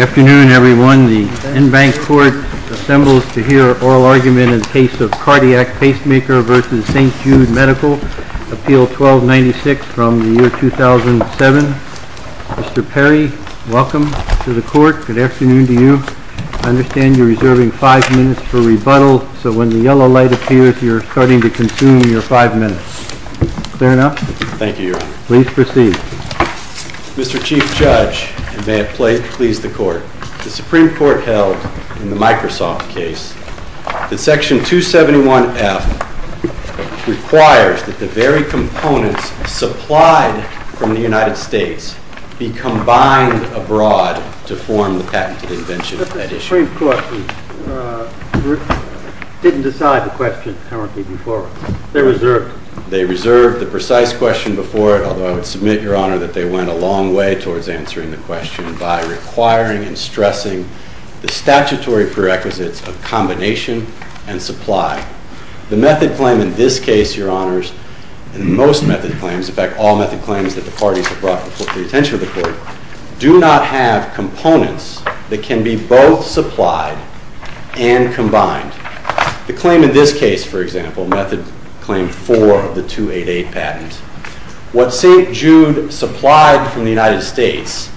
Appeal 1296 from 2007. Mr. Perry, welcome to the Court. Good afternoon to you. I understand you're reserving 5 minutes for rebuttal, so when the yellow light appears, you're starting to consume your 5 minutes. Clear enough? Thank you, Your Honor. Please proceed. Mr. Chief Judge, and may it please the Court, the Supreme Court held in the Microsoft case that Section 271F requires that the very components supplied from the United States be combined abroad to form the patented invention of that issue. The Supreme Court didn't decide the question, apparently, before. They reserved it. They reserved the precise question before it, although I would submit, Your Honor, that they went a long way towards answering the question by requiring and stressing the statutory prerequisites of combination and supply. The method claim in this case, Your Honors, and most method claims, in fact all method claims that the parties have brought to the attention of the Court, do not have components that can be both supplied and combined. The claim in this case, for example, method claim 4 of the 288 patent, what St. Jude supplied from the United States,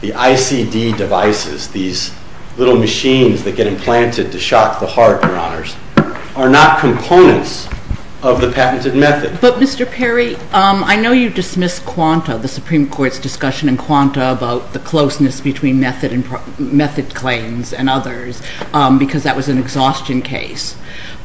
the ICD devices, these little machines that get implanted to shock the heart, Your Honors, are not components of the patented method. But, Mr. Perry, I know you dismissed Quanta, the Supreme Court's discussion in Quanta about the closeness between method claims and others because that was an exhaustion case.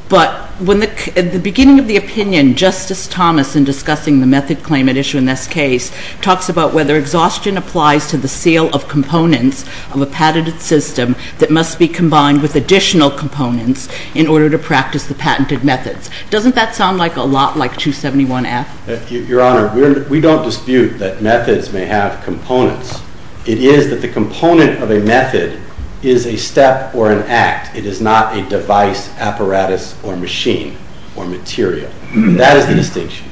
But at the beginning of the opinion, Justice Thomas, in discussing the method claim at issue in this case, talks about whether exhaustion applies to the seal of components of a patented system that must be combined with additional components in order to practice the patented methods. Doesn't that sound like a lot like 271F? Your Honor, we don't dispute that methods may have components. It is that the component of a method is a step or an act. It is not a device, apparatus, or machine or material. That is the distinction.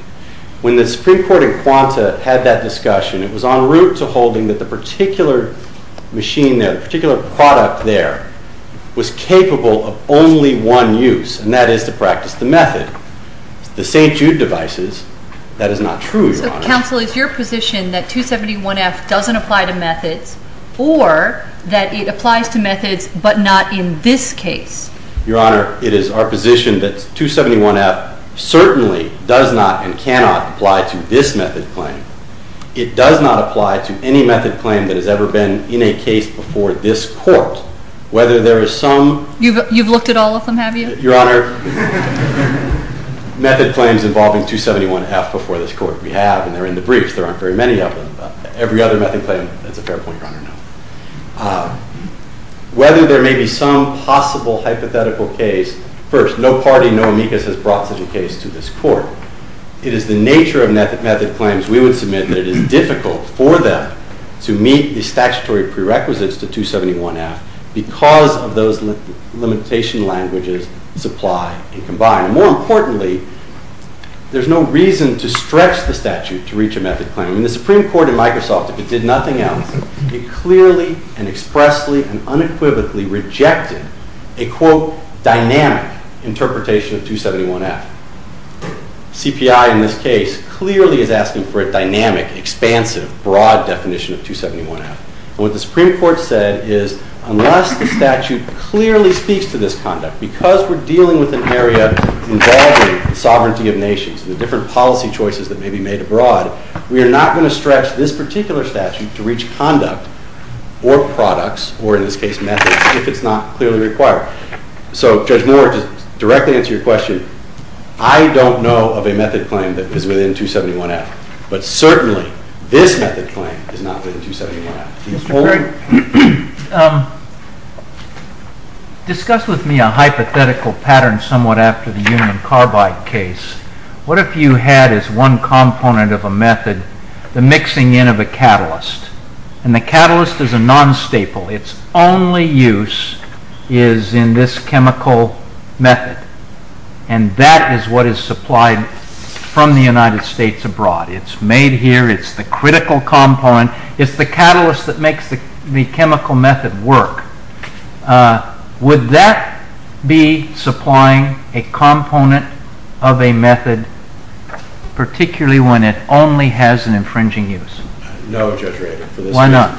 When the Supreme Court in Quanta had that discussion, it was en route to holding that the particular machine, the particular product there, was capable of only one use, and that is to practice the method. The St. Jude devices, that is not true, Your Honor. So, counsel, is your position that 271F doesn't apply to methods or that it applies to methods but not in this case? Your Honor, it is our position that 271F certainly does not and cannot apply to this method claim. It does not apply to any method claim that has ever been in a case before this court. Whether there is some... You've looked at all of them, have you? Your Honor, method claims involving 271F before this court, we have, and they're in the briefs. There aren't very many of them. Whether there may be some possible hypothetical case, first, no party, no amicus has brought such a case to this court. It is the nature of method claims we would submit that it is difficult for them to meet the statutory prerequisites to 271F because of those limitation languages supply and combine. More importantly, there's no reason to stretch the statute to reach a method claim. The Supreme Court in Microsoft, if it did nothing else, it clearly and expressly and unequivocally rejected a, quote, dynamic interpretation of 271F. CPI in this case clearly is asking for a dynamic, expansive, broad definition of 271F. And what the Supreme Court said is unless the statute clearly speaks to this conduct, because we're dealing with an area involving the sovereignty of nations and the different policy choices that may be made abroad, we are not going to stretch this particular statute to reach conduct or products, or in this case methods, if it's not clearly required. So, Judge Moore, to directly answer your question, I don't know of a method claim that is within 271F. But certainly this method claim is not within 271F. Discuss with me a hypothetical pattern somewhat after the Union Carbide case. What if you had as one component of a method the mixing in of a catalyst? And the catalyst is a non-staple. Its only use is in this chemical method. And that is what is supplied from the United States abroad. It's made here. It's the critical component. It's the catalyst that makes the chemical method work. Would that be supplying a component of a method, particularly when it only has an infringing use? No, Judge Rader. Why not?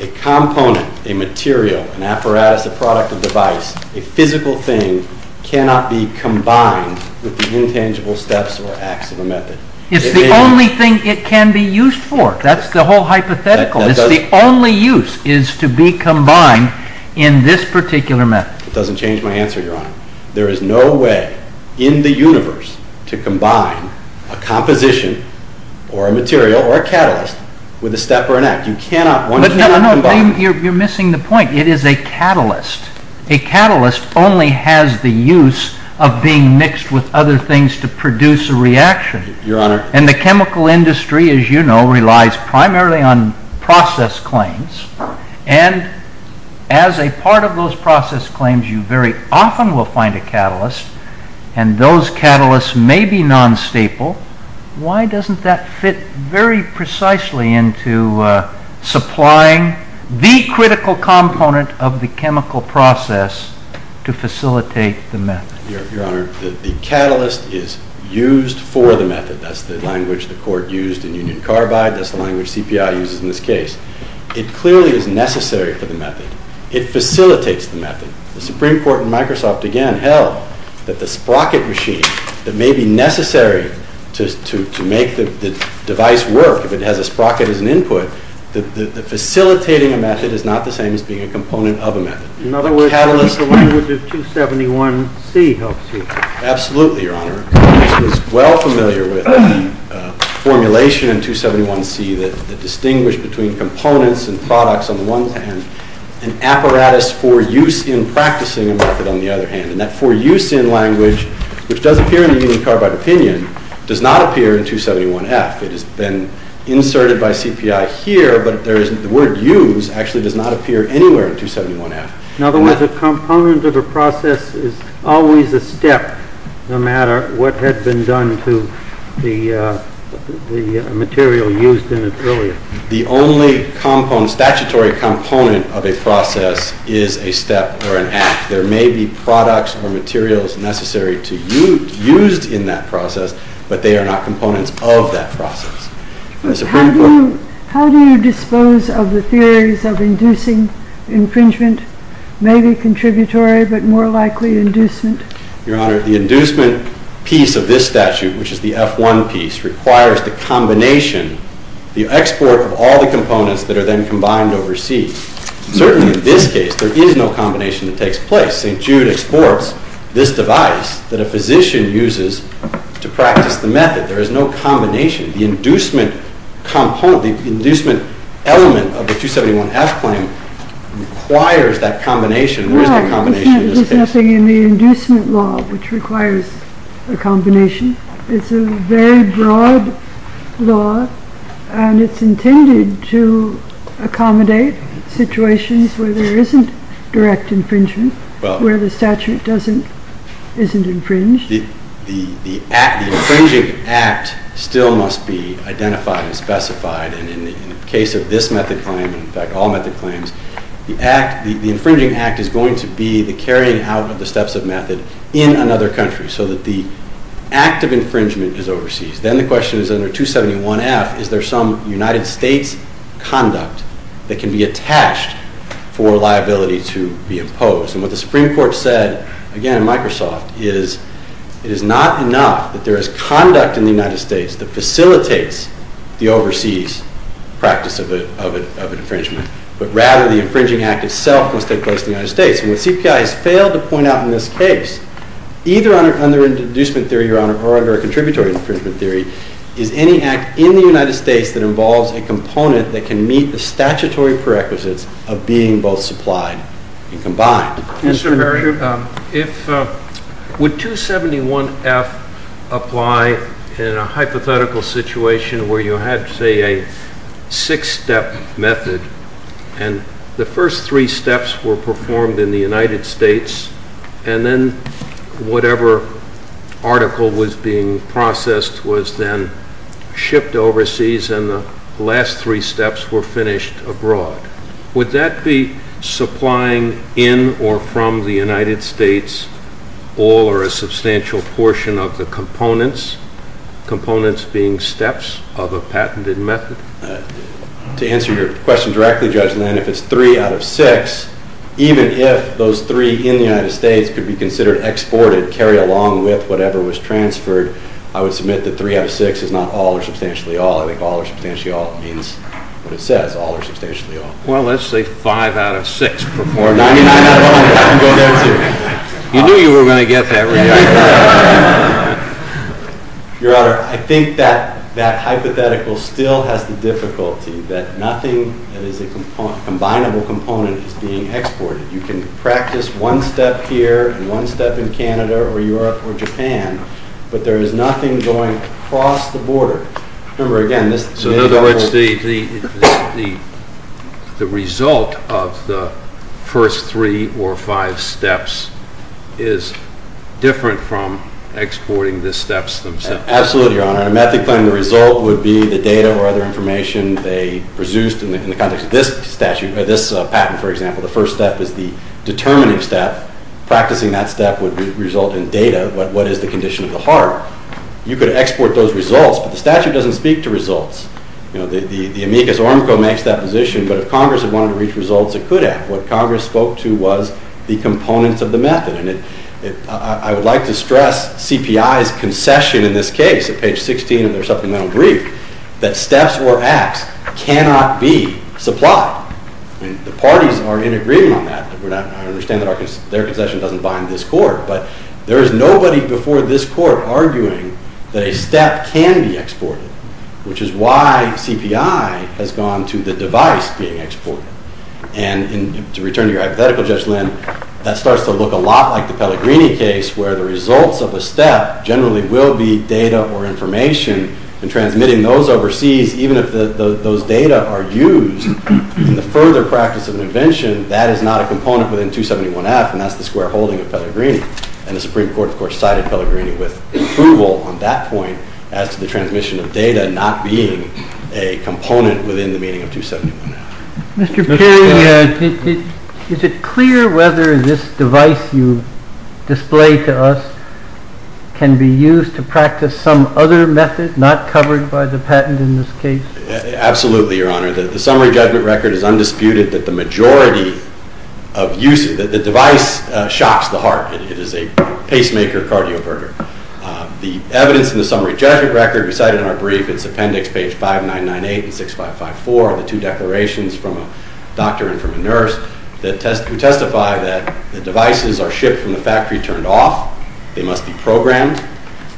A component, a material, an apparatus, a product, a device, a physical thing, cannot be combined with the intangible steps or acts of a method. It's the only thing it can be used for. That's the whole hypothetical. It's the only use is to be combined in this particular method. It doesn't change my answer, Your Honor. There is no way in the universe to combine a composition or a material or a catalyst with a step or an act. One cannot combine. No, you're missing the point. It is a catalyst. A catalyst only has the use of being mixed with other things to produce a reaction. Your Honor. And the chemical industry, as you know, relies primarily on process claims. And as a part of those process claims, you very often will find a catalyst, and those catalysts may be non-staple. Why doesn't that fit very precisely into supplying the critical component of the chemical process to facilitate the method? Your Honor, the catalyst is used for the method. That's the language the Court used in Union Carbide. That's the language CPI uses in this case. It clearly is necessary for the method. It facilitates the method. The Supreme Court and Microsoft again held that the sprocket machine that may be necessary to make the device work, if it has a sprocket as an input, facilitating a method is not the same as being a component of a method. In other words, the language of 271C helps you. Absolutely, Your Honor. I was well familiar with the formulation in 271C that distinguished between components and products on the one hand, and apparatus for use in practicing a method on the other hand. And that for use in language, which does appear in the Union Carbide opinion, does not appear in 271F. It has been inserted by CPI here, but the word use actually does not appear anywhere in 271F. In other words, a component of a process is always a step, no matter what had been done to the material used in it earlier. The only statutory component of a process is a step or an act. There may be products or materials necessary to be used in that process, but they are not components of that process. How do you dispose of the theories of inducing infringement, maybe contributory, but more likely inducement? Your Honor, the inducement piece of this statute, which is the F1 piece, requires the combination, the export of all the components that are then combined over C. Certainly in this case, there is no combination that takes place. St. Jude exports this device that a physician uses to practice the method. There is no combination. The inducement element of the 271F claim requires that combination. There is no combination in this case. There is nothing in the inducement law which requires a combination. It's a very broad law, and it's intended to accommodate situations where there isn't direct infringement, where the statute isn't infringed. The infringing act still must be identified and specified. In the case of this method claim, in fact all method claims, the infringing act is going to be the carrying out of the steps of method in another country so that the act of infringement is overseas. Then the question is under 271F, is there some United States conduct that can be attached for liability to be imposed? And what the Supreme Court said, again, in Microsoft, is it is not enough that there is conduct in the United States that facilitates the overseas practice of an infringement, but rather the infringing act itself must take place in the United States. And what CPI has failed to point out in this case, either under an inducement theory or under a contributory infringement theory, is any act in the United States that involves a component that can meet the statutory prerequisites of being both supplied and combined. Mr. Murray, would 271F apply in a hypothetical situation where you had, say, a six-step method and the first three steps were performed in the United States and then whatever article was being processed was then shipped overseas and the last three steps were finished abroad? Would that be supplying in or from the United States all or a substantial portion of the components, components being steps of a patented method? To answer your question directly, Judge Lynn, if it's three out of six, even if those three in the United States could be considered exported, carry along with whatever was transferred, I would submit that three out of six is not all or substantially all. I think all or substantially all means what it says, all or substantially all. Well, let's say five out of six. Or 99 out of 100. You knew you were going to get that reaction. Your Honor, I think that hypothetical still has the difficulty that nothing that is a combinable component is being exported. You can practice one step here and one step in Canada or Europe or Japan, but there is nothing going across the border. So in other words, the result of the first three or five steps is different from exporting the steps themselves? Absolutely, Your Honor. A method claimed result would be the data or other information they produced in the context of this statute, or this patent, for example. The first step is the determining step. Practicing that step would result in data. What is the condition of the heart? You could export those results, but the statute doesn't speak to results. The amicus ormco makes that position, but if Congress had wanted to reach results, it could have. What Congress spoke to was the components of the method. And I would like to stress CPI's concession in this case, at page 16 of their supplemental brief, that steps or acts cannot be supplied. The parties are in agreement on that. I understand that their concession doesn't bind this Court, but there is nobody before this Court arguing that a step can be exported, which is why CPI has gone to the device being exported. And to return to your hypothetical, Judge Lynn, that starts to look a lot like the Pellegrini case, where the results of a step generally will be data or information, and transmitting those overseas, even if those data are used in the further practice of an invention, that is not a component within 271F, and that's the square holding of Pellegrini. And the Supreme Court, of course, cited Pellegrini with approval on that point as to the transmission of data not being a component within the meaning of 271F. Mr. Perry, is it clear whether this device you display to us can be used to practice some other method not covered by the patent in this case? Absolutely, Your Honor. The summary judgment record is undisputed that the device shocks the heart. It is a pacemaker cardioverter. The evidence in the summary judgment record we cited in our brief, it's appendix page 5998 and 6554 of the two declarations from a doctor and from a nurse, who testify that the devices are shipped from the factory turned off. They must be programmed.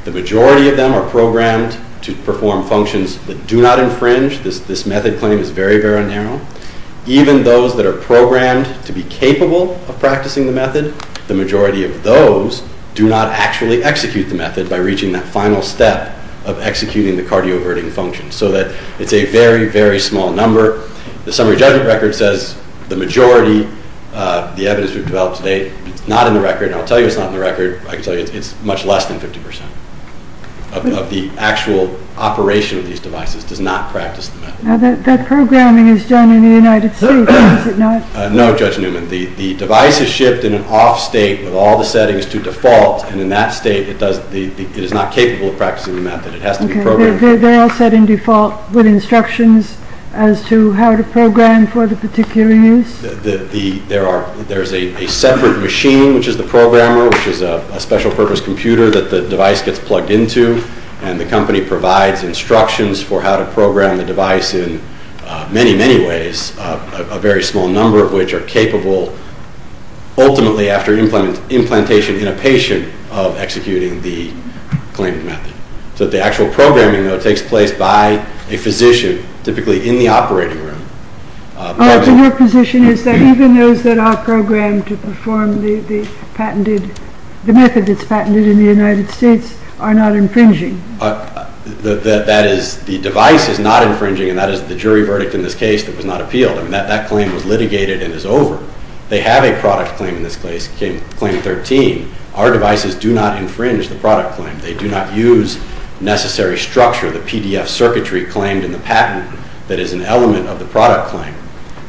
The majority of them are programmed to perform functions that do not infringe. This method claim is very, very narrow. Even those that are programmed to be capable of practicing the method, the majority of those do not actually execute the method by reaching that final step of executing the cardioverting function, so that it's a very, very small number. The summary judgment record says the majority of the evidence we've developed to date is not in the record, and I'll tell you it's not in the record. I can tell you it's much less than 50% of the actual operation of these devices does not practice the method. Now, that programming is done in the United States, is it not? No, Judge Newman. The device is shipped in an off state with all the settings to default, and in that state it is not capable of practicing the method. It has to be programmed. They're all set in default with instructions as to how to program for the particular use? There's a separate machine, which is the programmer, which is a special purpose computer that the device gets plugged into, and the company provides instructions for how to program the device in many, many ways, a very small number of which are capable ultimately after implantation in a patient of executing the claimed method. So the actual programming, though, takes place by a physician, typically in the operating room. So your position is that even those that are programmed to perform the method that's patented in the United States are not infringing? The device is not infringing, and that is the jury verdict in this case that was not appealed. That claim was litigated and is over. They have a product claim in this case, claim 13. Our devices do not infringe the product claim. They do not use necessary structure, the PDF circuitry claimed in the patent that is an element of the product claim.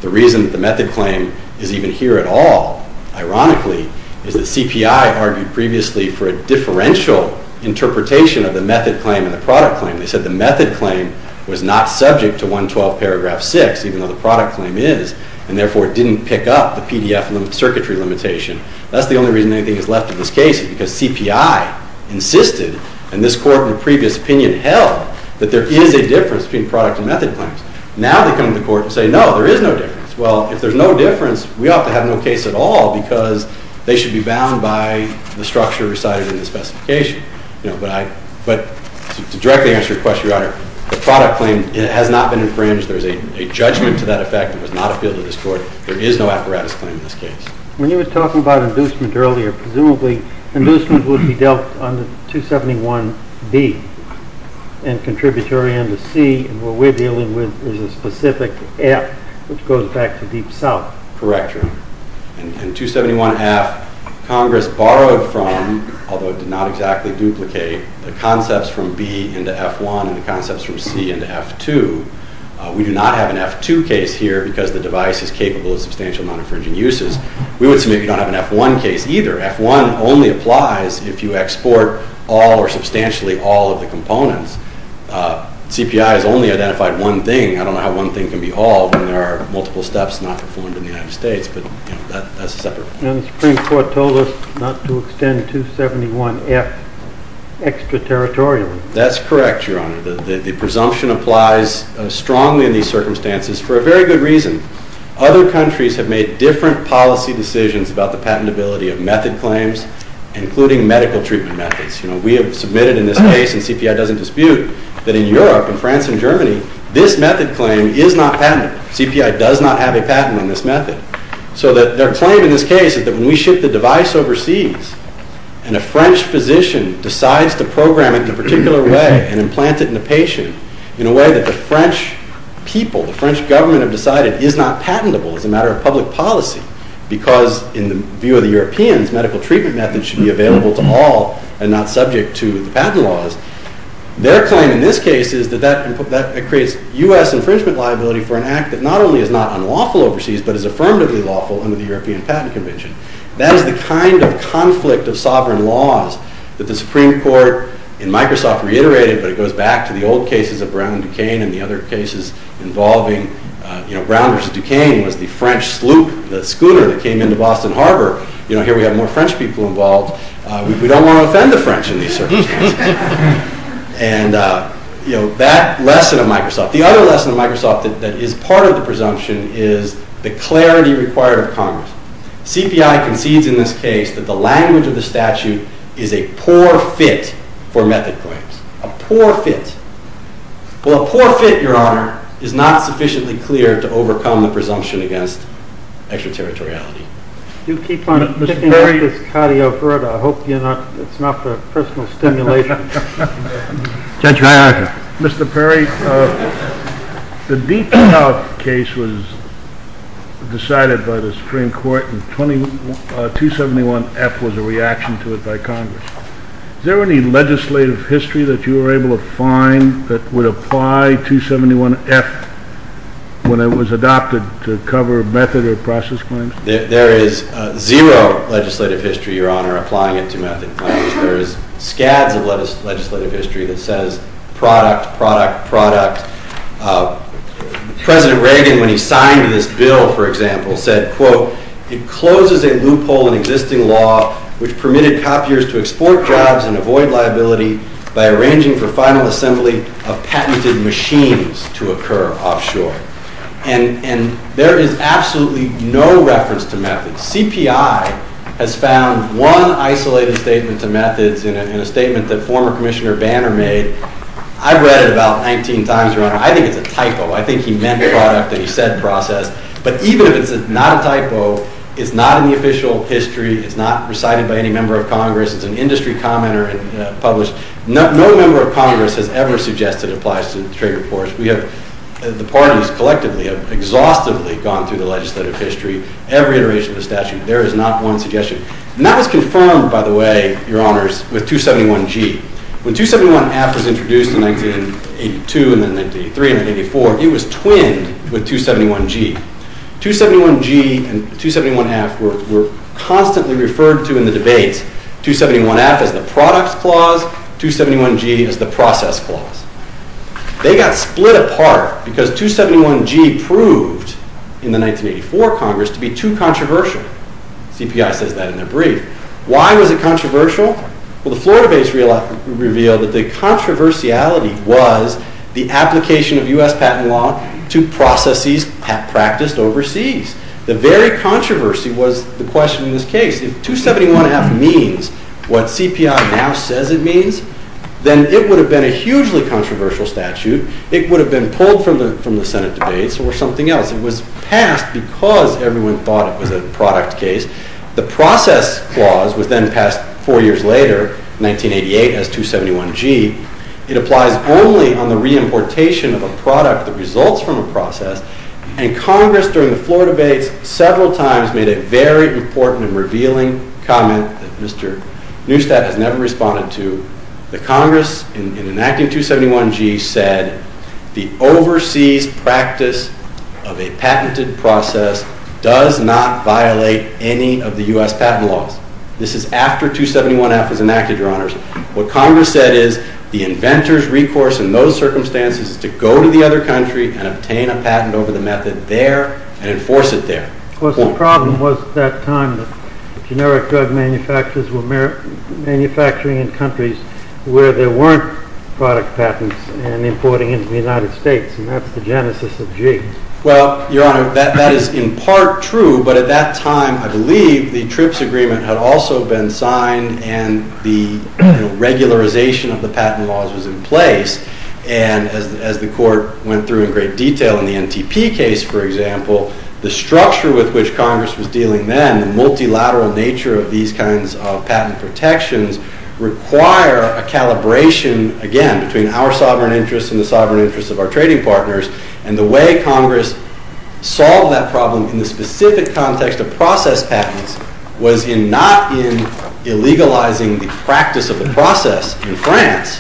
The reason that the method claim is even here at all, ironically, is that CPI argued previously for a differential interpretation of the method claim and the product claim. They said the method claim was not subject to 112 paragraph 6, even though the product claim is, and therefore didn't pick up the PDF circuitry limitation. That's the only reason anything is left in this case, because CPI insisted, and this court in a previous opinion held, that there is a difference between product and method claims. Now they come to court and say, no, there is no difference. Well, if there's no difference, we ought to have no case at all because they should be bound by the structure recited in the specification. But to directly answer your question, Your Honor, the product claim has not been infringed. There's a judgment to that effect. It was not appealed to this court. There is no apparatus claim in this case. When you were talking about inducement earlier, presumably inducement would be dealt under 271B and contributory under C, and what we're dealing with is a specific F, which goes back to Deep South. Correct. That's true. In 271F, Congress borrowed from, although it did not exactly duplicate, the concepts from B into F1 and the concepts from C into F2. We do not have an F2 case here because the device is capable of substantial non-infringing uses. We would submit we don't have an F1 case either. F1 only applies if you export all or substantially all of the components. CPI has only identified one thing. I don't know how one thing can be all when there are multiple steps not performed in the United States, but that's a separate point. And the Supreme Court told us not to extend 271F extraterritorially. That's correct, Your Honor. The presumption applies strongly in these circumstances for a very good reason. Other countries have made different policy decisions about the patentability of method claims, including medical treatment methods. We have submitted in this case, and CPI doesn't dispute, that in Europe, in France and Germany, this method claim is not patented. CPI does not have a patent on this method. So their claim in this case is that when we ship the device overseas and a French physician decides to program it in a particular way and implant it in a patient in a way that the French people, the French government have decided is not patentable as a matter of public policy because, in the view of the Europeans, medical treatment methods should be available to all and not subject to the patent laws, their claim in this case is that that creates U.S. infringement liability for an act that not only is not unlawful overseas, but is affirmatively lawful under the European Patent Convention. That is the kind of conflict of sovereign laws that the Supreme Court in Microsoft reiterated, but it goes back to the old cases of Brown v. Duquesne and the other cases involving, you know, Brown v. Duquesne was the French sloop, the schooner that came into Boston Harbor. You know, here we have more French people involved. We don't want to offend the French in these circumstances. And, you know, that lesson of Microsoft. The other lesson of Microsoft that is part of the presumption is the clarity required of Congress. CPI concedes in this case that the language of the statute is a poor fit for method claims. A poor fit. Well, a poor fit, Your Honor, is not sufficiently clear to overcome the presumption against extraterritoriality. Do keep on picking up this cardio for it. I hope it's not the personal stimulation. Judge, my argument. Mr. Perry, the Deep South case was decided by the Supreme Court, and 271F was a reaction to it by Congress. Is there any legislative history that you were able to find that would apply 271F when it was adopted to cover method or process claims? There is zero legislative history, Your Honor, applying it to method claims. There is scads of legislative history that says product, product, product. President Reagan, when he signed this bill, for example, said, quote, it closes a loophole in existing law which permitted copiers to export jobs and avoid liability by arranging for final assembly of patented machines to occur offshore. And there is absolutely no reference to method. CPI has found one isolated statement to methods in a statement that former Commissioner Banner made. I read it about 19 times, Your Honor. I think it's a typo. I think he meant product and he said process. But even if it's not a typo, it's not in the official history. It's not recited by any member of Congress. It's an industry commenter and published. No member of Congress has ever suggested it applies to trade reports. The parties collectively have exhaustively gone through the legislative history, every iteration of the statute. There is not one suggestion. And that was confirmed, by the way, Your Honors, with 271G. When 271F was introduced in 1982 and then 1983 and 1984, it was twinned with 271G. 271G and 271F were constantly referred to in the debates, 271F as the product clause, 271G as the process clause. They got split apart because 271G proved, in the 1984 Congress, to be too controversial. CPI says that in their brief. Why was it controversial? Well, the Florida base revealed that the controversiality was the application of U.S. patent law to processes practiced overseas. The very controversy was the question in this case. If 271F means what CPI now says it means, then it would have been a hugely controversial statute. It would have been pulled from the Senate debates or something else. It was passed because everyone thought it was a product case. The process clause was then passed four years later, 1988, as 271G. It applies only on the reimportation of a product that results from a process. And Congress, during the Florida debates, several times made a very important and revealing comment that Mr. Neustadt has never responded to. The Congress, in enacting 271G, said the overseas practice of a patented process does not violate any of the U.S. patent laws. This is after 271F was enacted, Your Honors. What Congress said is the inventor's recourse in those circumstances is to go to the other country and obtain a patent over the method there and enforce it there. Of course, the problem was at that time that generic drug manufacturers were manufacturing in countries where there weren't product patents and importing into the United States. And that's the genesis of G. Well, Your Honor, that is in part true. But at that time, I believe, the TRIPS agreement had also been signed and the regularization of the patent laws was in place. And as the Court went through in great detail in the NTP case, for example, the structure with which Congress was dealing then, the multilateral nature of these kinds of patent protections, require a calibration, again, between our sovereign interests and the sovereign interests of our trading partners. And the way Congress solved that problem in the specific context of process patents was not in illegalizing the practice of the process in France,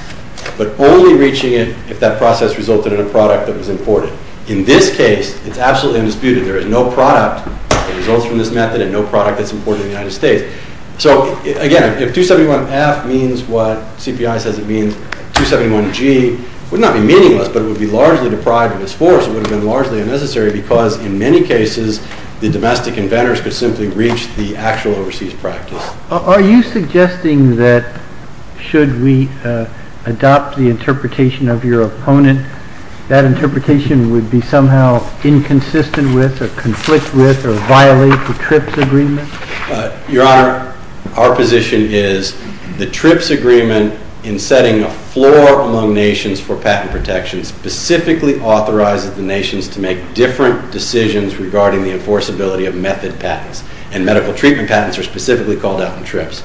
but only reaching it if that process resulted in a product that was imported. In this case, it's absolutely undisputed. There is no product that results from this method and no product that's imported in the United States. So, again, if 271F means what CPI says it means, 271G would not be meaningless, but it would be largely deprived of its force. It would have been largely unnecessary because, in many cases, the domestic inventors could simply reach the actual overseas practice. Are you suggesting that should we adopt the interpretation of your opponent, that interpretation would be somehow inconsistent with or conflict with or violate the TRIPS agreement? Your Honor, our position is the TRIPS agreement, in setting a floor among nations for patent protection, specifically authorizes the nations to make different decisions regarding the enforceability of method patents. And medical treatment patents are specifically called out in TRIPS.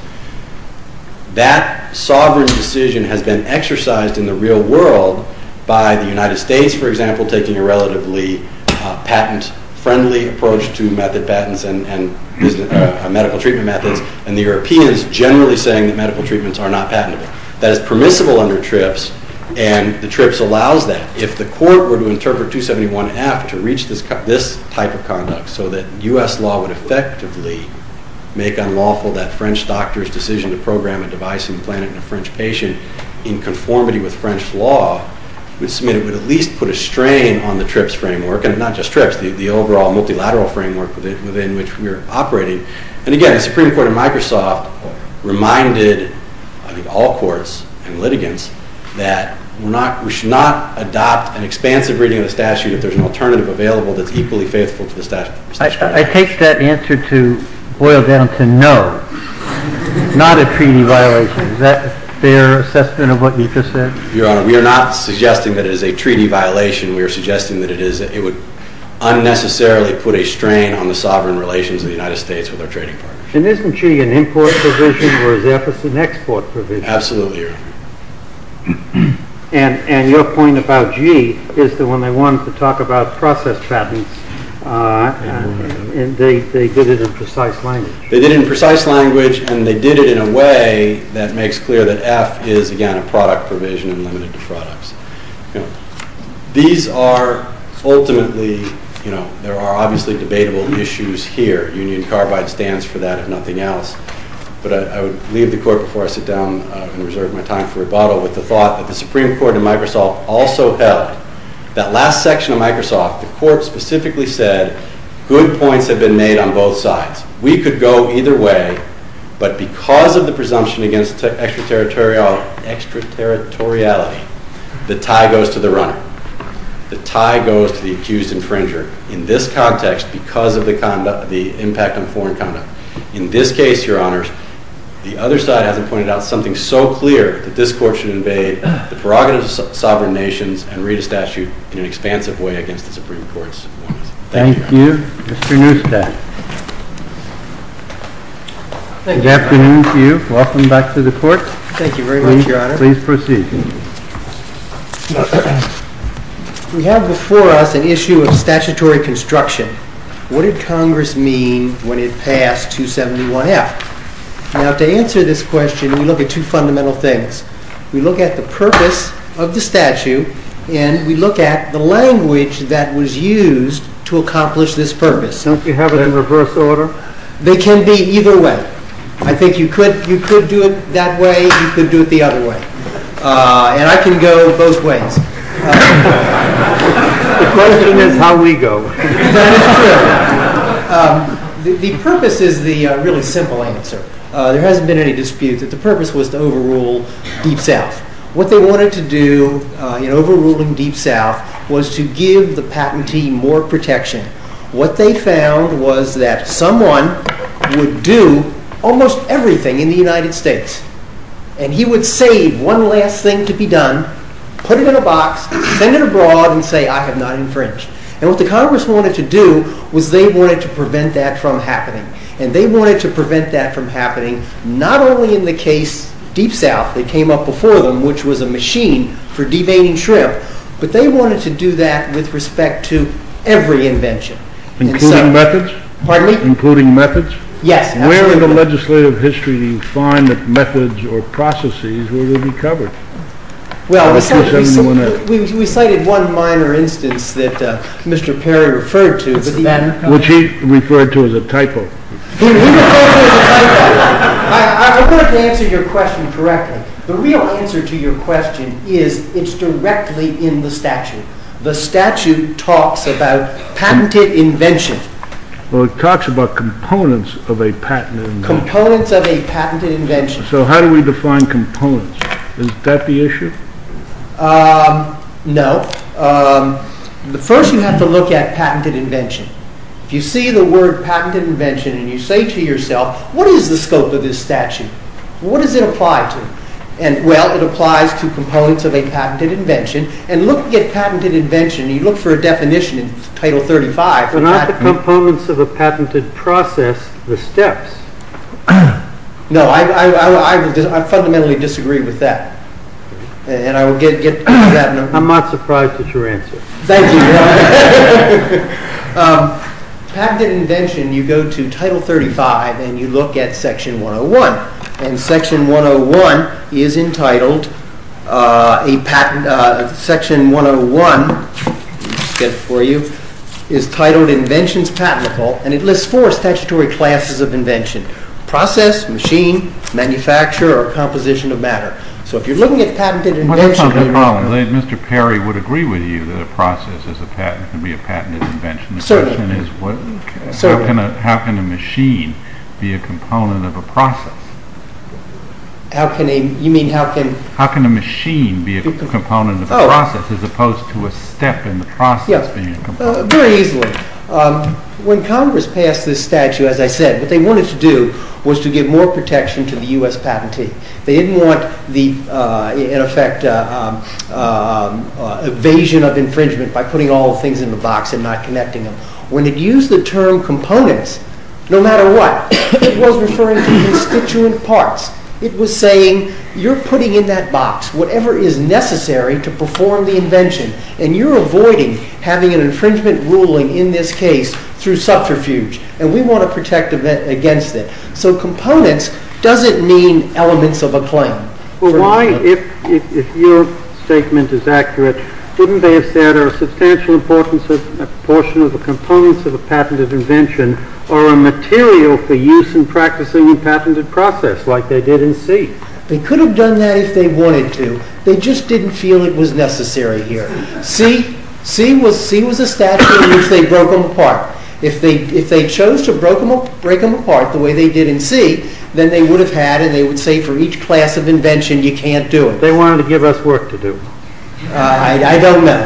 That sovereign decision has been exercised in the real world by the United States, for example, taking a relatively patent-friendly approach to method patents and medical treatment methods, and the Europeans generally saying that medical treatments are not patentable. That is permissible under TRIPS, and the TRIPS allows that. If the court were to interpret 271F to reach this type of conduct so that U.S. law would effectively make unlawful that French doctor's decision to program a device and implant it in a French patient in conformity with French law, it would at least put a strain on the TRIPS framework, and not just TRIPS, the overall multilateral framework within which we are operating. And again, the Supreme Court of Microsoft reminded all courts and litigants that we should not adopt an expansive reading of the statute if there's an alternative available that's equally faithful to the statute. I take that answer to boil down to no, not a treaty violation. Is that a fair assessment of what you just said? Your Honor, we are not suggesting that it is a treaty violation. We are suggesting that it would unnecessarily put a strain on the sovereign relations of the United States with our trading partners. And isn't G an import provision, whereas F is an export provision? Absolutely, Your Honor. And your point about G is that when they wanted to talk about process patents, they did it in precise language. They did it in precise language, and they did it in a way that makes clear that F is, again, a product provision and limited to products. These are ultimately, you know, there are obviously debatable issues here. Union Carbide stands for that, if nothing else. But I would leave the court before I sit down and reserve my time for rebuttal with the thought that the Supreme Court of Microsoft also held that last section of Microsoft, the court specifically said, good points have been made on both sides. We could go either way, but because of the presumption against extraterritoriality, the tie goes to the runner. The tie goes to the accused infringer in this context because of the impact on foreign conduct. In this case, Your Honor, the other side hasn't pointed out something so clear that this court should invade the prerogatives of sovereign nations and read a statute in an expansive way against the Supreme Court's warnings. Thank you. Thank you. Mr. Neustadt. Good afternoon to you. Welcome back to the court. Thank you very much, Your Honor. Please proceed. We have before us an issue of statutory construction. What did Congress mean when it passed 271F? Now, to answer this question, we look at two fundamental things. We look at the purpose of the statute, and we look at the language that was used to accomplish this purpose. Don't you have it in reverse order? They can be either way. I think you could do it that way. You could do it the other way. And I can go both ways. The question is how we go. That is true. The purpose is the really simple answer. There hasn't been any dispute that the purpose was to overrule Deep South. What they wanted to do in overruling Deep South was to give the patentee more protection. What they found was that someone would do almost everything in the United States, and he would save one last thing to be done, put it in a box, send it abroad, and say, I have not infringed. And what the Congress wanted to do was they wanted to prevent that from happening. And they wanted to prevent that from happening not only in the case, Deep South, that came up before them, which was a machine for deveining shrimp, but they wanted to do that with respect to every invention. Including methods? Pardon me? Including methods? Yes. Where in the legislative history do you find that methods or processes will be covered? We cited one minor instance that Mr. Perry referred to. Which he referred to as a typo. He referred to it as a typo. I wanted to answer your question correctly. The real answer to your question is it's directly in the statute. The statute talks about patented invention. Well, it talks about components of a patented invention. Components of a patented invention. So how do we define components? Is that the issue? No. First you have to look at patented invention. If you see the word patented invention and you say to yourself, what is the scope of this statute? What does it apply to? Well, it applies to components of a patented invention. And looking at patented invention, you look for a definition in Title 35. But not the components of a patented process, the steps. No, I fundamentally disagree with that. And I will get to that in a moment. I'm not surprised at your answer. Thank you. Patented invention, you go to Title 35 and you look at Section 101. And Section 101 is entitled, Section 101, I'll get it for you, is titled Inventions Patentable. And it lists four statutory classes of invention. Process, machine, manufacturer, or composition of matter. So if you're looking at patented invention, Mr. Perry would agree with you that a process can be a patented invention. Certainly. How can a machine be a component of a process? How can a machine be a component of a process as opposed to a step in the process being a component? Very easily. When Congress passed this statute, as I said, what they wanted to do was to give more protection to the U.S. patentee. They didn't want the, in effect, evasion of infringement by putting all things in the box and not connecting them. When it used the term components, no matter what, it was referring to constituent parts. It was saying, you're putting in that box whatever is necessary to perform the invention. And you're avoiding having an infringement ruling in this case through subterfuge. And we want to protect against it. So components doesn't mean elements of a claim. But why, if your statement is accurate, wouldn't they have said a substantial portion of the components of a patented invention are a material for use in practicing a patented process like they did in C? They could have done that if they wanted to. They just didn't feel it was necessary here. C was a statute in which they broke them apart. If they chose to break them apart the way they did in C, then they would have had, and they would say for each class of invention, you can't do it. They wanted to give us work to do. I don't know.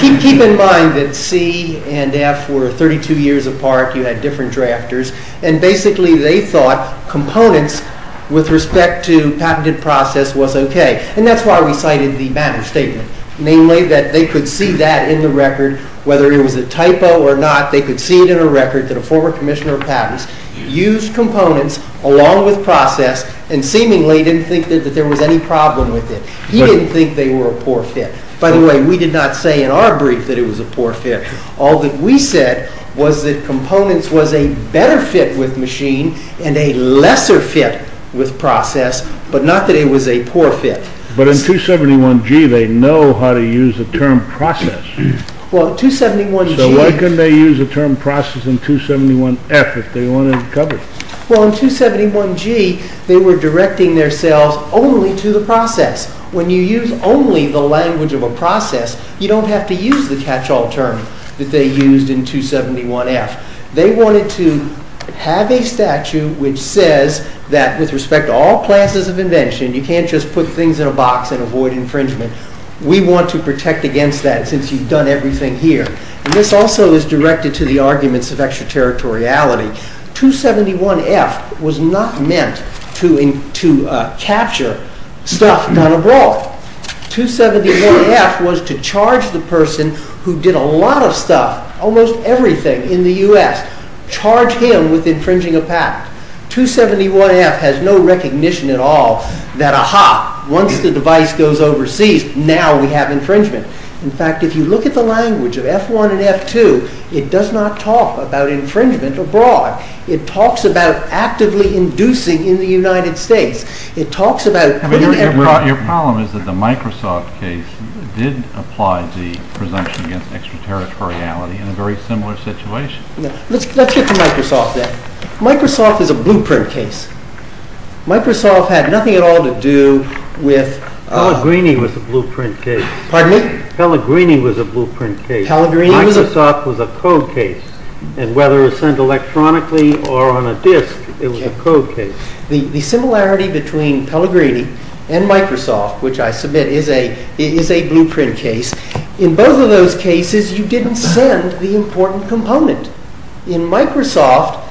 Keep in mind that C and F were 32 years apart. You had different drafters. And basically they thought components with respect to patented process was okay. And that's why we cited the Banner Statement. Namely, that they could see that in the record, whether it was a typo or not, they could see it in a record that a former commissioner of patents used components along with process and seemingly didn't think that there was any problem with it. He didn't think they were a poor fit. By the way, we did not say in our brief that it was a poor fit. All that we said was that components was a better fit with machine and a lesser fit with process, but not that it was a poor fit. But in 271G they know how to use the term process. Well, 271G... So why couldn't they use the term process in 271F if they wanted coverage? Well, in 271G, they were directing themselves only to the process. When you use only the language of a process, you don't have to use the catch-all term that they used in 271F. They wanted to have a statute which says that with respect to all classes of invention, you can't just put things in a box and avoid infringement. since you've done everything here. And this also is directed to the arguments of extraterritoriality. 271F was not meant to capture stuff done abroad. 271F was to charge the person who did a lot of stuff, almost everything in the US, charge him with infringing a patent. 271F has no recognition at all that, aha, once the device goes overseas, now we have infringement. In fact, if you look at the language of F1 and F2, it does not talk about infringement abroad. It talks about actively inducing in the United States. Your problem is that the Microsoft case did apply the presumption against extraterritoriality in a very similar situation. Let's get to Microsoft then. Microsoft is a blueprint case. Microsoft had nothing at all to do with... Pellegrini was a blueprint case. Pardon me? Pellegrini was a blueprint case. Microsoft was a code case. And whether it was sent electronically or on a disk, it was a code case. The similarity between Pellegrini and Microsoft, which I submit is a blueprint case, in both of those cases, you didn't send the important component. In Microsoft,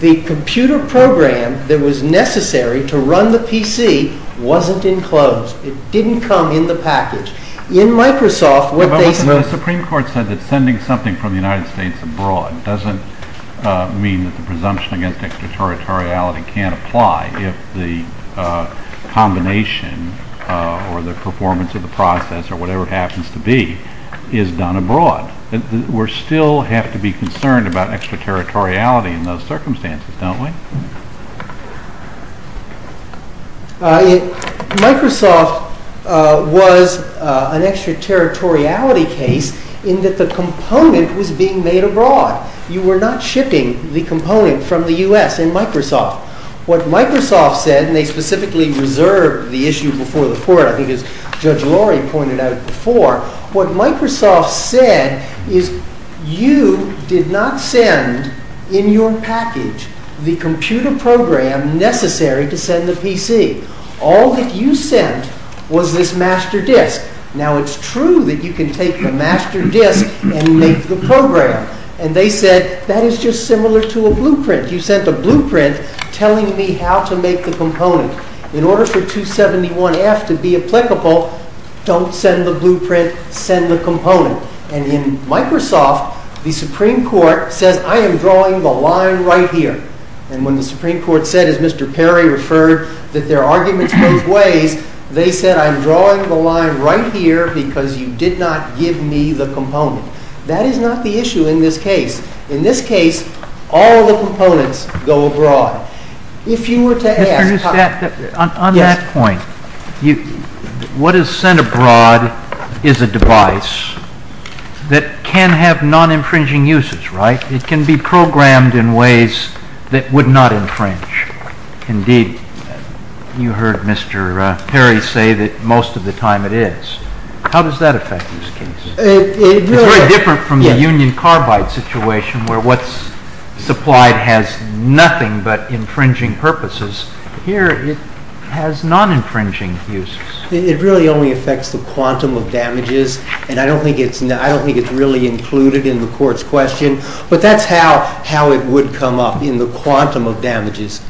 the computer program that was necessary to run the PC wasn't enclosed. It didn't come in the package. In Microsoft, what they... The Supreme Court said that sending something from the United States abroad doesn't mean that the presumption against extraterritoriality can't apply if the combination or the performance of the process or whatever it happens to be is done abroad. We still have to be concerned don't we? Microsoft was an extraterritoriality case, in that the component was being made abroad. You were not shipping the component from the U.S. in Microsoft. What Microsoft said, and they specifically reserved the issue before the court, I think as Judge Lori pointed out before, what Microsoft said is you did not send in your package the computer program necessary to send the PC. All that you sent was this master disk. Now it's true that you can take the master disk and make the program. And they said, that is just similar to a blueprint. You sent a blueprint telling me how to make the component. In order for 271F to be applicable, don't send the blueprint, send the component. And in Microsoft, the Supreme Court says, I am drawing the line right here. And when the Supreme Court said, as Mr. Perry referred, that their arguments go both ways, they said, I am drawing the line right here because you did not give me the component. That is not the issue in this case. In this case, all the components go abroad. If you were to ask... On that point, what is sent abroad is a device that can have non-infringing uses, right? It can be programmed in ways that would not infringe. Indeed, you heard Mr. Perry say that most of the time it is. How does that affect these cases? It is very different from the union carbide situation where what is supplied has nothing but infringing purposes. Here, it has non-infringing uses. It really only affects the quantum of damages. And I don't think it is really included in the court's question. But that is how it would come up in the quantum of damages.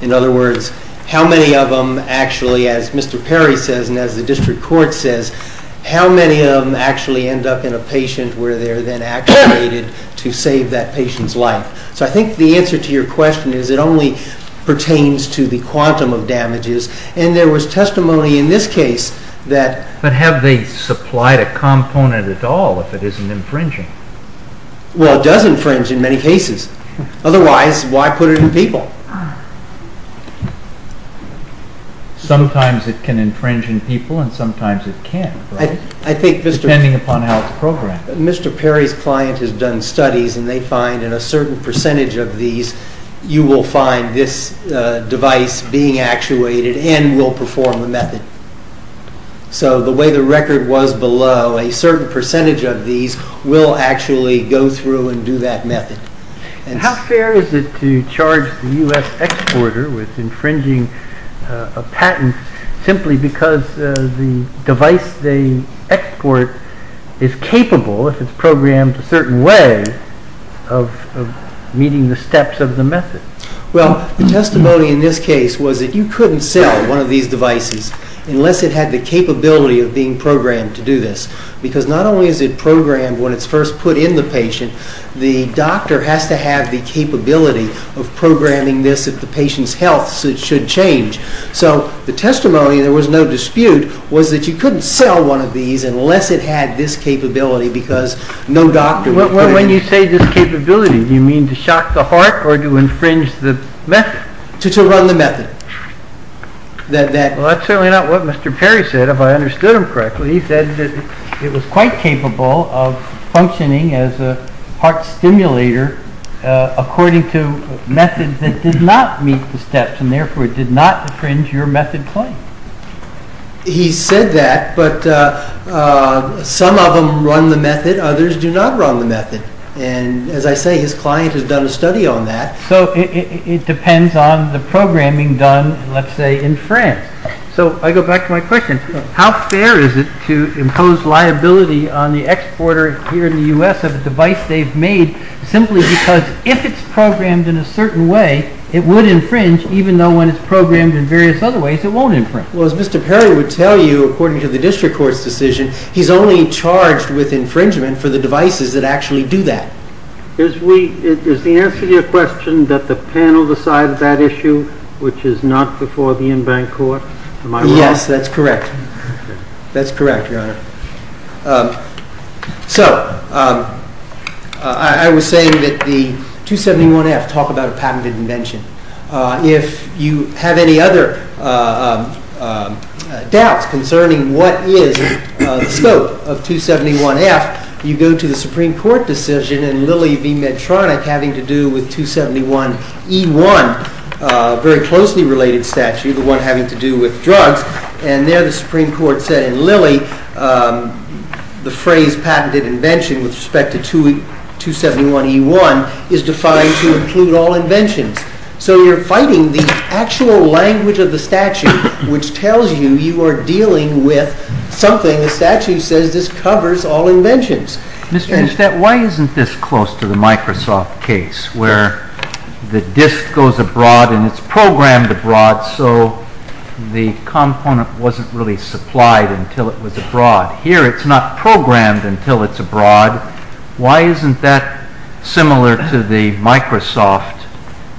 In other words, how many of them, actually, as Mr. Perry says and as the district court says, how many of them actually end up in a patient where they are then activated to save that patient's life? So I think the answer to your question is it only pertains to the quantum of damages. And there was testimony in this case that... But have they supplied a component at all if it is not infringing? Well, it does infringe in many cases. Otherwise, why put it in people? Sometimes it can infringe in people and sometimes it can't. Depending upon how it is programmed. Mr. Perry's client has done studies and they find in a certain percentage of these you will find this device being actuated and will perform the method. So the way the record was below, a certain percentage of these will actually go through and do that method. How fair is it to charge the U.S. exporter with infringing a patent simply because the device they export is capable, if it is programmed a certain way, of meeting the steps of the method? Well, the testimony in this case was that you couldn't sell one of these devices unless it had the capability of being programmed to do this. Because not only is it programmed when it is first put in the patient, the doctor has to have the capability of programming this at the patient's health so it should change. So the testimony, there was no dispute, was that you couldn't sell one of these unless it had this capability because no doctor would put it in. When you say this capability, do you mean to shock the heart or to infringe the method? To run the method. That's certainly not what Mr. Perry said, if I understood him correctly. He said it was quite capable of functioning as a heart stimulator according to methods that did not meet the steps and therefore did not infringe your method claim. He said that, but some of them run the method, others do not run the method. And as I say, his client has done a study on that. So it depends on the programming done, let's say, in France. So I go back to my question. How fair is it to impose liability on the exporter here in the U.S. of a device they've made simply because if it's programmed in a certain way, it would infringe when it's programmed in various other ways it won't infringe? Well, as Mr. Perry would tell you, according to the district court's decision, he's only charged with infringement for the devices that actually do that. Is the answer to your question that the panel decided that issue, which is not before the in-bank court? Am I wrong? Yes, that's correct. That's correct, Your Honor. So I was saying that the 271F talk about a patented invention. If you have any other doubts concerning what is the scope of 271F, you go to the Supreme Court decision and Lillie v. Medtronic having to do the one having to do with drugs, and there the Supreme Court said, and Lillie, the Supreme Court said, if you have any other doubts concerning the phrase patented invention with respect to 271E1 is defined to include all inventions. So you're fighting the actual language of the which tells you you are dealing with something the statute says this covers all inventions. Mr. Instead, why isn't this close to the Microsoft case where the disk goes abroad and it's programmed abroad so the component wasn't really programmed abroad. Here it's not programmed until it's abroad. Why isn't that similar to the Microsoft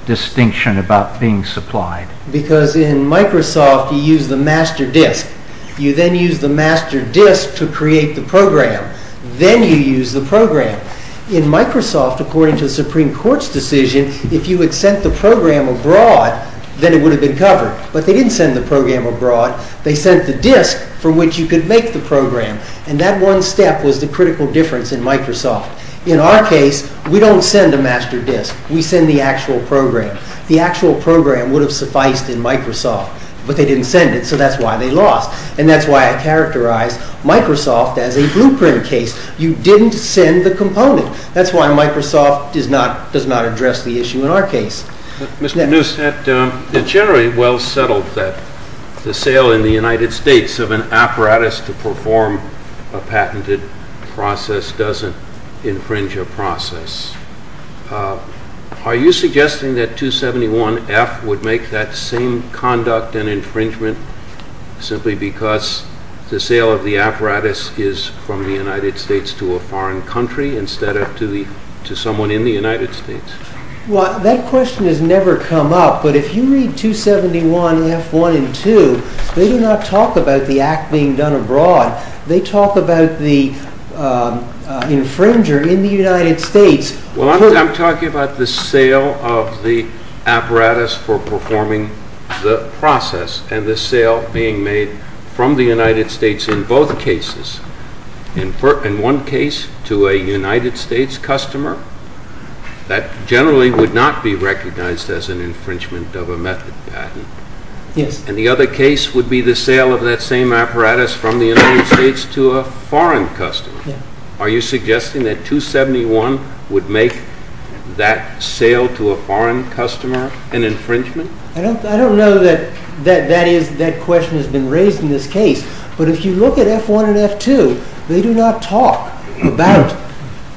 distinction about being supplied? Because in Microsoft, you use the master disk. You then use the master disk to create the program. Then you use the program. In Microsoft, according to the Supreme Court, you send the program. And that one step was the critical difference in Microsoft. In our case, we don't send a master disk. We send the actual program. The actual program would have sufficed in Microsoft, but they didn't send it, so that's why they lost. And that's why I think it's very well settled that the sale in the United States of an apparatus perform a patented process doesn't infringe a process. Are you suggesting that 271F would make that same conduct and infringement simply because the sale of the apparatus is from the United States to a foreign country instead of to someone in the United States? Well, that question has never come up, but if you read 271F 1 and 2, they do not talk about the act being done abroad. They talk about the infringer in the United States. Well, I'm talking about the sale of the apparatus for performing the process and the sale being made from the United States in both cases. In one case, to a United States customer, that generally would not be recognized as an infringement of a method patent. And the other case would be the sale of that same apparatus from the United States to a foreign customer. Are you talking about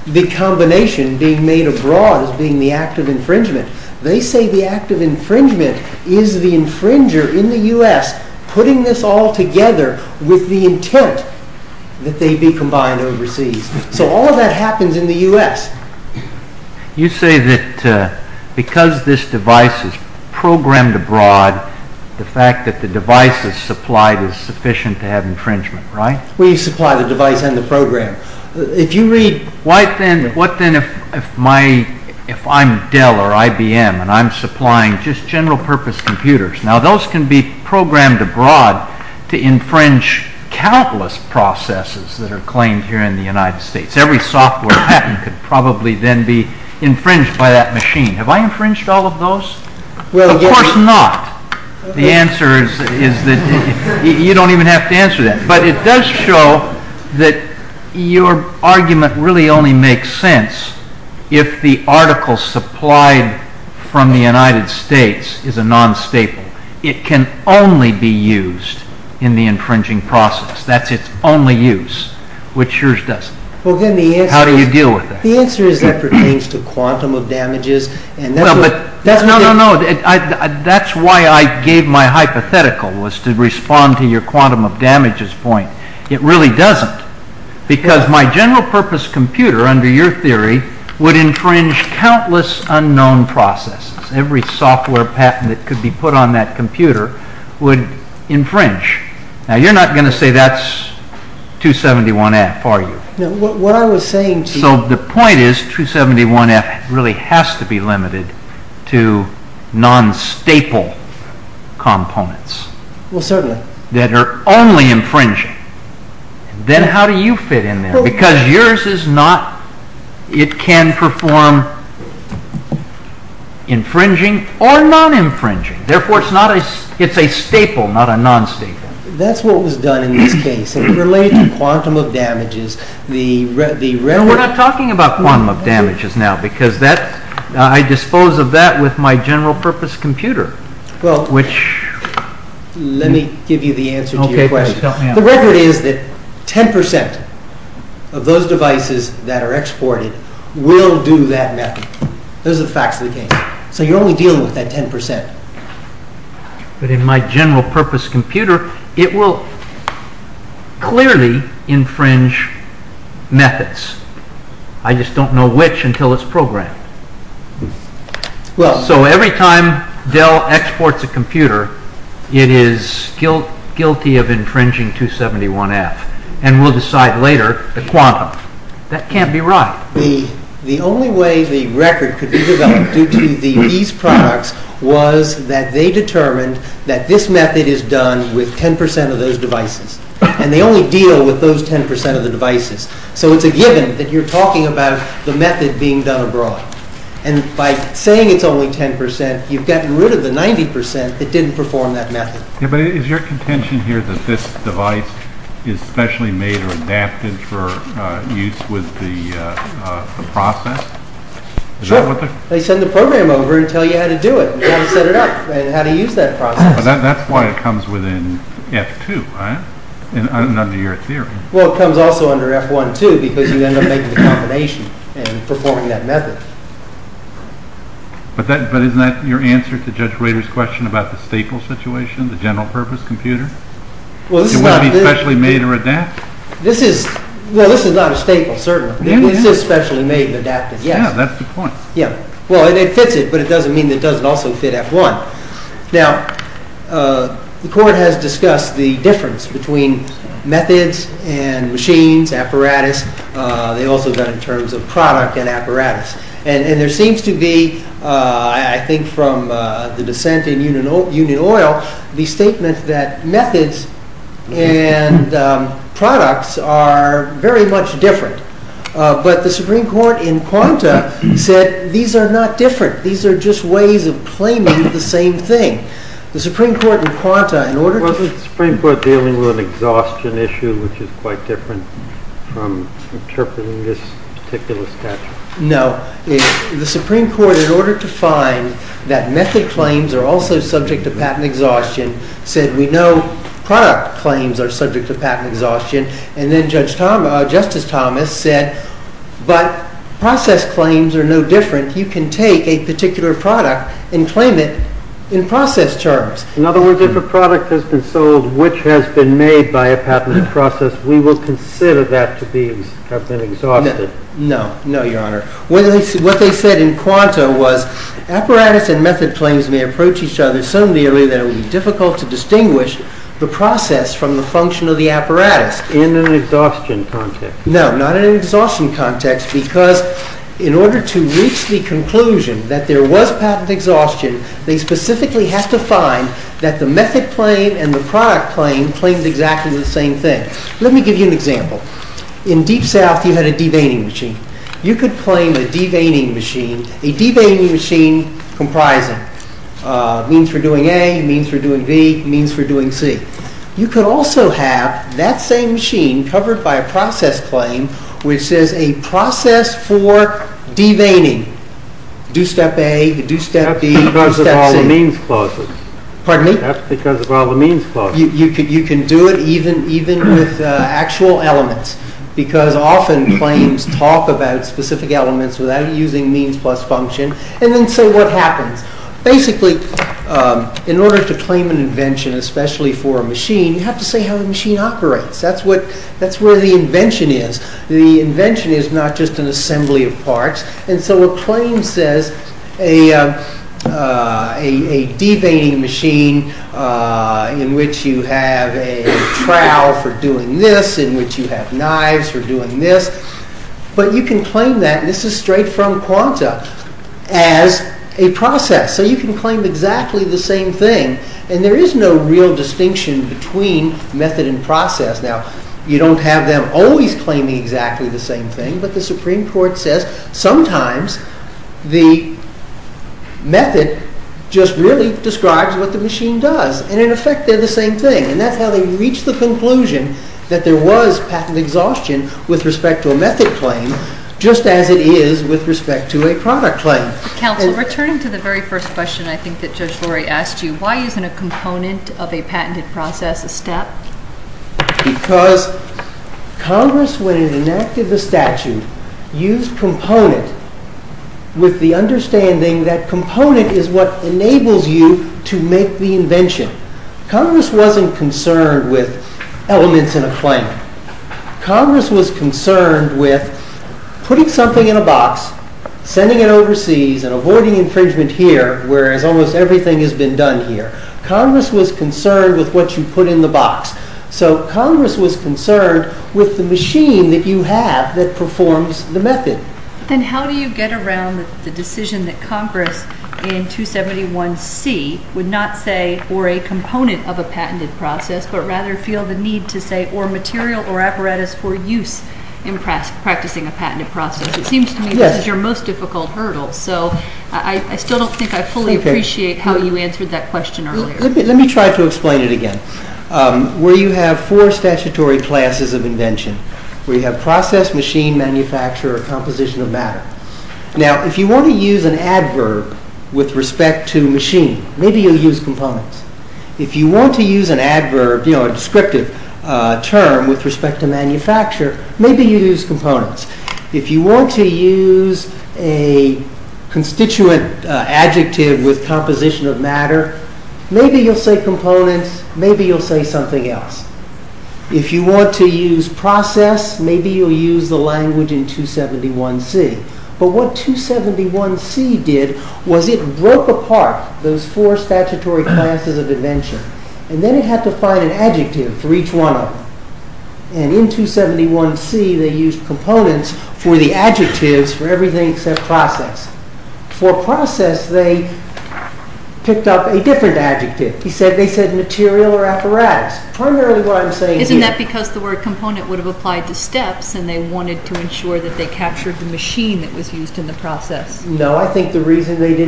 the combination being made abroad as being the act of infringement? They say the act of infringement is the infringer in the United States putting this all together with the intent that they be combined overseas. So all that happens in the United States. You say that because this device is programmed abroad, the fact that the device is supplied is sufficient to have infringement, right? We supply the device and the program. If you read, what then if I'm Dell or IBM and I'm supplying just general purpose computers, now those can be programmed abroad to infringe countless processes that are claimed here in the United States. Every software patent could probably then be infringed by that machine. Have I infringed all of those? Of course not. The answer is that you don't even have to answer that. But it does show that your argument really only makes sense if the article supplied from the United States is a non-staple. It can only be used in the infringing process. That's its only use, which yours doesn't. How do you deal with that? The answer is that pertains to quantum of damages. That's why I gave my hypothetical was to respond to your quantum of damages point. It really doesn't, because my general purpose computer, under your theory, would infringe countless unknown processes. Every software patent that could be put on that computer would infringe. Now you're not going to say that's 271F, are you? So the point is 271F really has to be limited to non-staple components that are only infringing. Then how do you fit in there? Because yours can perform infringing or non-infringing. Therefore, it's a staple, not a non-staple. That's what was done in this case. It related to quantum of damages. We're not talking about quantum of damages now, because I dispose of that with my general purpose computer. Let me give you the answer to your question. In my general purpose computer, it will clearly infringe methods. I just don't know which until it's programmed. So every time Dell exports a computer, it is guilty of infringing 271F, and we'll decide later the quantum. That can't be right. The only way to say that the record could be developed due to these products was that they determined that this method is done with 10% of those devices, and they only deal with those 10% of the devices. So it's a given that you're talking about the method being done abroad. And by saying it's only 10%, you've gotten rid of the 90%, it didn't perform that method. Yeah, but is your contention here that this device is specially made or adapted for use with the process? Sure. They send the program over and tell you how to do it and how to set it up and how to use that process. But that's why it doesn't Is there any answer to Judge Rader's question about the staple situation, the general purpose computer? It wouldn't be specially made or adapted? This is not a staple, certainly. It is specially made and adapted. Yeah, that's the point. Yeah. Well, it fits it, but it doesn't mean it doesn't also fit F1. Now, the court has discussed the difference between methods and machines, apparatus. They also got in terms of product and apparatus. And there seems to be, I think, from the dissent in Union Oil, the statement that methods and products are very much different. But the Supreme Court in Quanta said these are not different. These are just ways of claiming the same thing. Wasn't the Supreme Court dealing with an exhaustion issue, which is quite different from interpreting this particular statute? No. The Supreme Court, in order to find that method claims are also subject to exhaustion the Supreme Court said, but process claims are no different. You can take a particular product and claim it in process terms. In other words, if a product has been sold, which has been made by a patent process, we will consider that to have been exhausted. No, Your Honor. What they said in Quanta was apparatus and method claims may approach each other so nearly that it would be difficult to distinguish the process from the function of the apparatus. In an exhaustion context. No, not in an exhaustion context, because in order to reach the conclusion that there was patent exhaustion, they specifically had to find that the method claim and the product claim claimed exactly the same thing. Let me give you an example. In Deep South, you had a de-veining machine. You could claim a de-veining machine, a de-veining machine comprising means for doing A, means for doing B, means for doing C. You could also have that same machine covered by a process claim which says a de-veining. Do step A, do step B, do step C. That's because of all the means clauses. Pardon me? That's because of all the means clauses. You can do it even with actual elements, because often claims talk about specific elements without using means plus function. So what happens? Basically, in order to claim an invention, especially for a machine, you have to say how the machine operates. That's where the invention is. The invention is not just an assembly of parts. A claim says a de-veining machine in which you have a trowel for doing this, in which you have knives for doing this. But you can claim that. This is straight from quanta as a process. So you can claim exactly the same thing. And there is no real distinction between method and process. Now, you don't have them always claiming exactly the same thing, but the Supreme Court says sometimes the method just really describes what the machine does. And in effect, they're claiming exactly the same thing. And that's how they reached the conclusion that there was patent exhaustion with respect to a method claim, just as it is with respect to a product claim. Counsel, returning to the very first question I think that Judge Lurie asked you, why isn't a component of a patented process a step? Because Congress, when it enacted the statute, used component with the understanding that component is what enables you to make the invention. Congress wasn't concerned with elements in a claim. Congress was concerned with putting something in a box, sending it overseas, and avoiding infringement here, whereas almost everything has been done here. Congress was concerned with what you put in the box. Congress was concerned with the machine that you have that performs the method. Then how do you get around the decision that Congress in 271C would not say or a component of a patented process, but rather feel the need to say or material or apparatus for use in practicing a patented process? It seems to me that this is your most difficult hurdle. I still don't think I fully appreciate how you answered that question earlier. Let me try to explain it again. Where you have four statutory classes of invention, we have process, machine, composition of matter. If you want to use an adverb with respect to machine, maybe you use components. If you want to use an adverb, a constituent adjective with composition of matter, maybe you'll say components, maybe you'll say something else. If you want to use process, maybe you'll use the language in 271C. But what 271C did was it broke apart those four statutory classes of invention, and then it had to find an adjective for each one of them. And in 271C, they used components for the adjectives for everything except process. For process, they picked up a different adjective. They said material or apparatus, primarily what I'm saying here. Isn't that because the word component would have applied to steps and they wanted to ensure that they captured the machine that was used in the process? No, I think the reason they did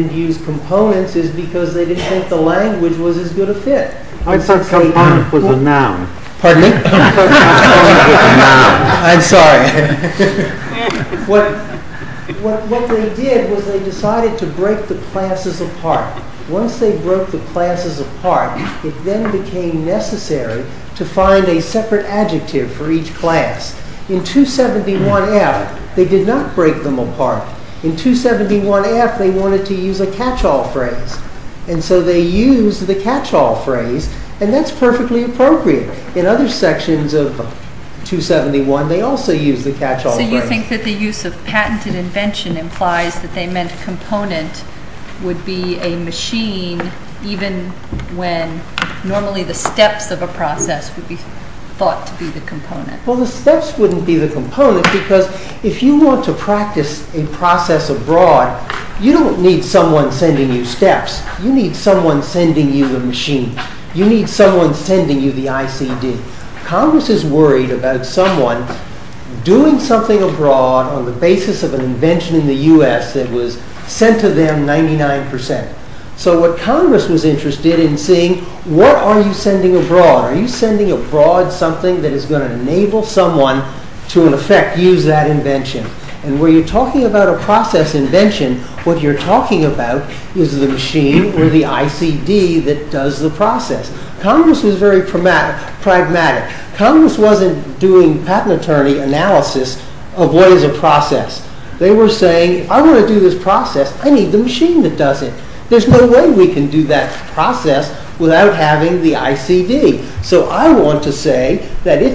that was they decided to break the classes apart. Once they broke the classes apart, it then became necessary to find a separate adjective for each class. In 271F, they did not break them apart. In 271F, they wanted to use a catch-all phrase, and so they used the catch-all phrase, and that's perfectly appropriate. In other sections of the catch-all phrase, and that's perfectly appropriate. I think that the use of patented invention implies that they meant component would be a machine even when normally the steps of a process would be thought to be the component. Well, the steps wouldn't be the component because if you want to practice a process abroad, you don't need someone sending you steps. You need someone sending you the machine. You need someone sending you the ICD. Congress is worried about someone doing something abroad on the basis of an invention in the process. Congress is going to enable someone to in effect use that invention. And when you're talking about a process invention, what you're talking about is the machine or the ICD that does the process. Congress was very pragmatic. Congress wasn't doing patent attorney analysis of what is a process. They were saying it's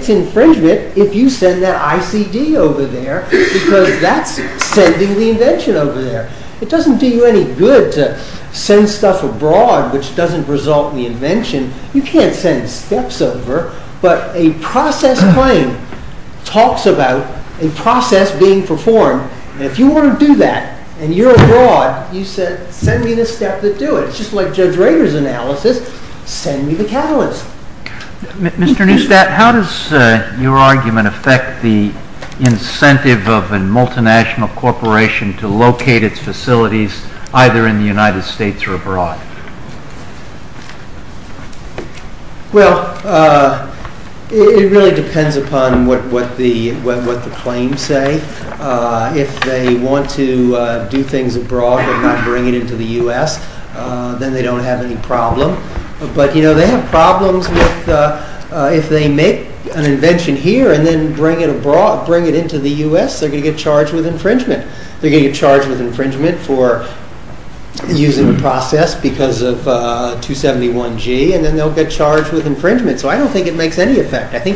infringement if you send that ICD over there. It doesn't do you any good to send stuff abroad which doesn't result in the invention. You can't send steps over, but a process claim talks about a process being performed. If you want to do that and you're abroad, send me the steps that you're talking about. And pragmatic that. When you're talking about a process being performed, Congress was very pragmatic about that. And Congress was very pragmatic about that. If they make an invention here and then bring it into the U.S., they're going to get charged with infringement. They're going to get charged with infringement for using a process because of 271G and then they'll get charged with infringement. So I don't think it makes any effect.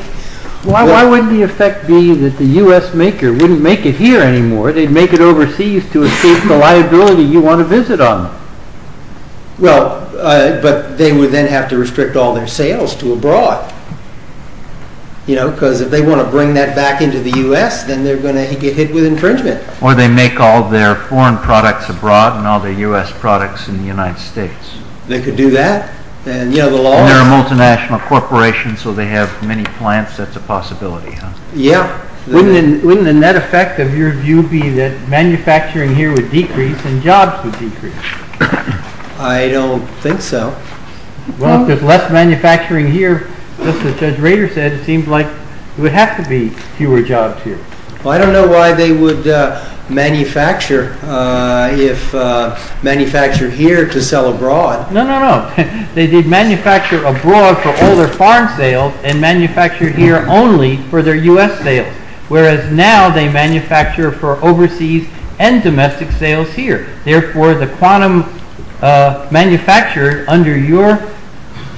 Why wouldn't the effect be that the U.S. maker wouldn't make it here anymore, they'd make it overseas to escape the liability you want to visit on. But they would then have to restrict all their sales to abroad. Because if they want to bring that back into the U.S., then they're going to get hit with infringement. Or they make all their foreign products abroad and all their U.S. products in the United States. They could do that. They're a multinational corporation, so they have many plants, that's a possibility. Wouldn't the net cost of manufacturing here seem like there would have to be fewer jobs here? Well, I don't know why they would manufacture here to sell abroad. No, no, no. They did manufacture abroad for all their foreign sales and manufacture here only for their U.S. sales. Whereas now they manufacture for overseas and domestic sales here. Therefore, the quantum manufacturer under your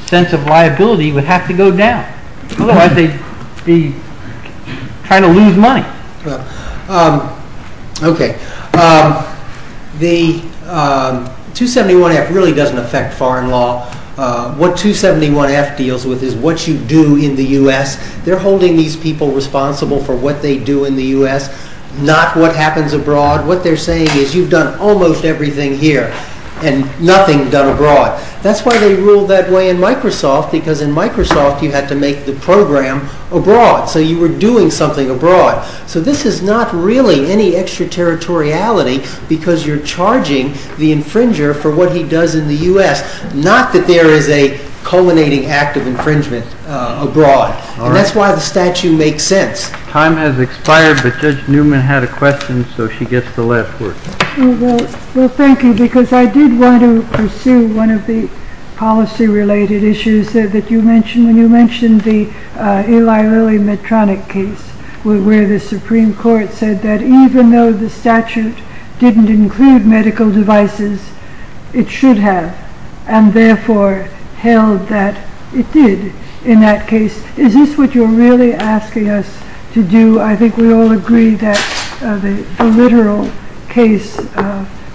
sense of liability would have to go down. Otherwise, they'd be trying to lose money. Okay. The 271F really doesn't affect foreign law. What 271F deals with is what you do in the U.S. They're holding these people responsible for what they do in the U.S., not what happens abroad. What they're saying is you've done almost everything here and nothing done abroad. That's why they have go down the road of colonizing active infringement abroad. That's why the statute makes sense. Time has expired, but Judge Newman had a question, so she gets the last word. Well, thank you, because I did want to pursue one of the policy-related issues that you mentioned when you mentioned the Eli Lilly Medtronic case, where the Supreme Court said that even though the statute didn't include medical devices, it should have, and therefore held that it did in that case. Is this what you're really asking us to do? I think we all agree that the literal case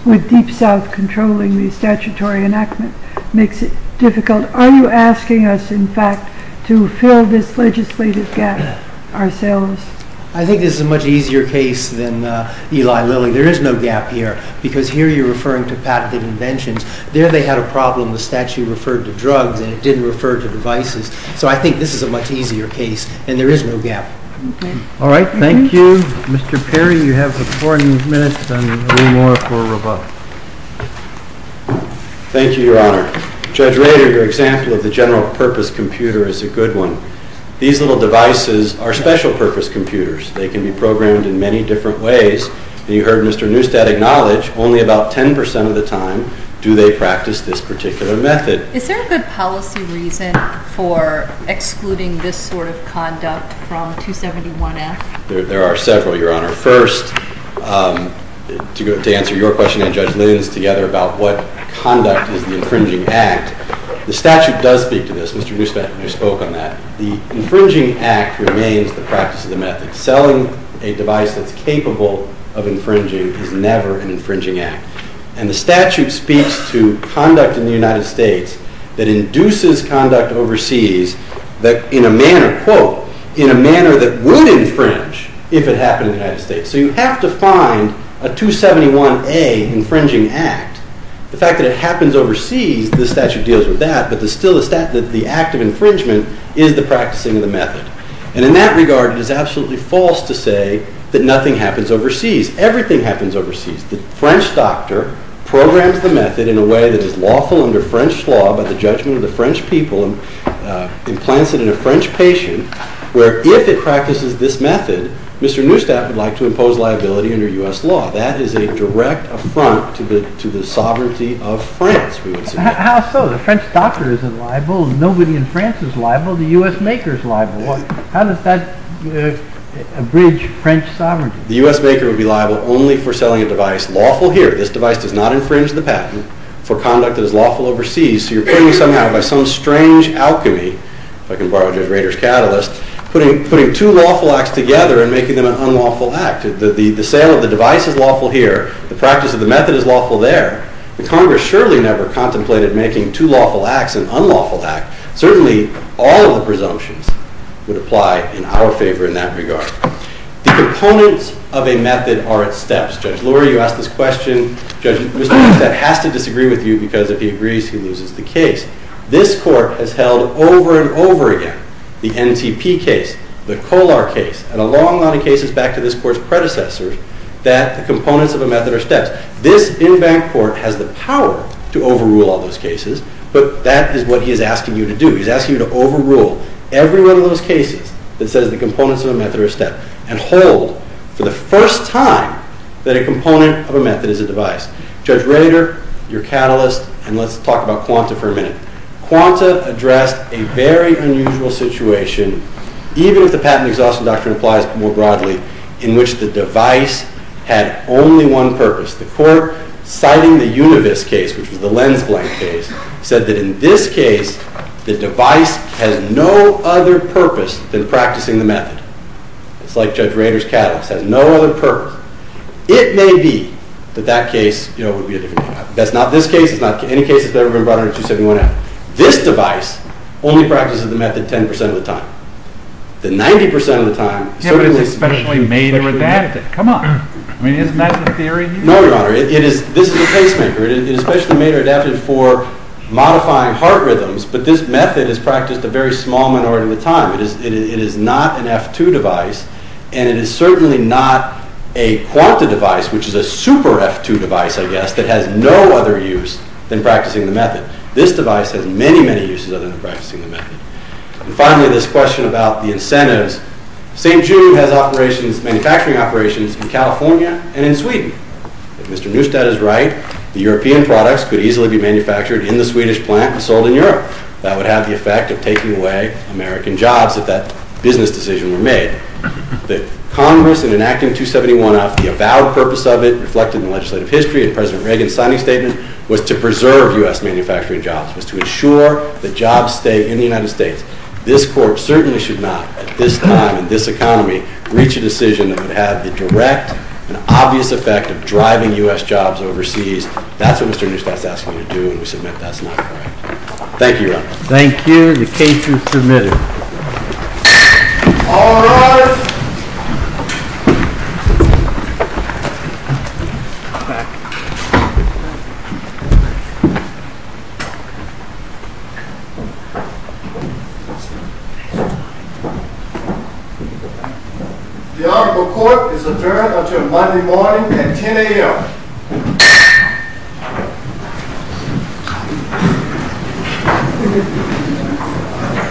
with Deep South controlling the statutory enactment makes it difficult. Are you asking us, in fact, to fill this legislative gap ourselves? I think this is a much easier case than Eli Lilly. There is no gap here, because here you're referring to patented inventions. There they had a problem. The statute referred to drugs, and it didn't refer to devices. So I think this is a much easier case, and there is no gap. All right. Thank you. Thank you. Mr. Perry, you have 14 minutes and a little more. Thank you, Your Honor. Judge Rader, your example of the general purpose computer is a good one. These little devices are special purpose computers. They can be programmed in many different ways, and you heard Mr. Neustadt acknowledge only about 10% of the time do they practice this particular method. Is there a good policy reason for excluding this sort of thing from the a good policy reason for that. I don't think there's a good policy reason for that. I don't think there's a good policy reason for that. I don't think there's a good policy reason for that. Where if it practices this method, Mr. Neustadt would like to impose liability under U.S. law. That is a direct affront to the sovereignty of France. The U.S. maker would be liable only for selling a device lawful here. This is a direct offense. Putting two lawful acts together and making them an unlawful act. The sale of the device is lawful here. The practice of the method is lawful there. The Congress surely never contemplated making two devices here. Thank you. The Honorable Court is adjourned until Monday morning at 10 a.m. Thank you.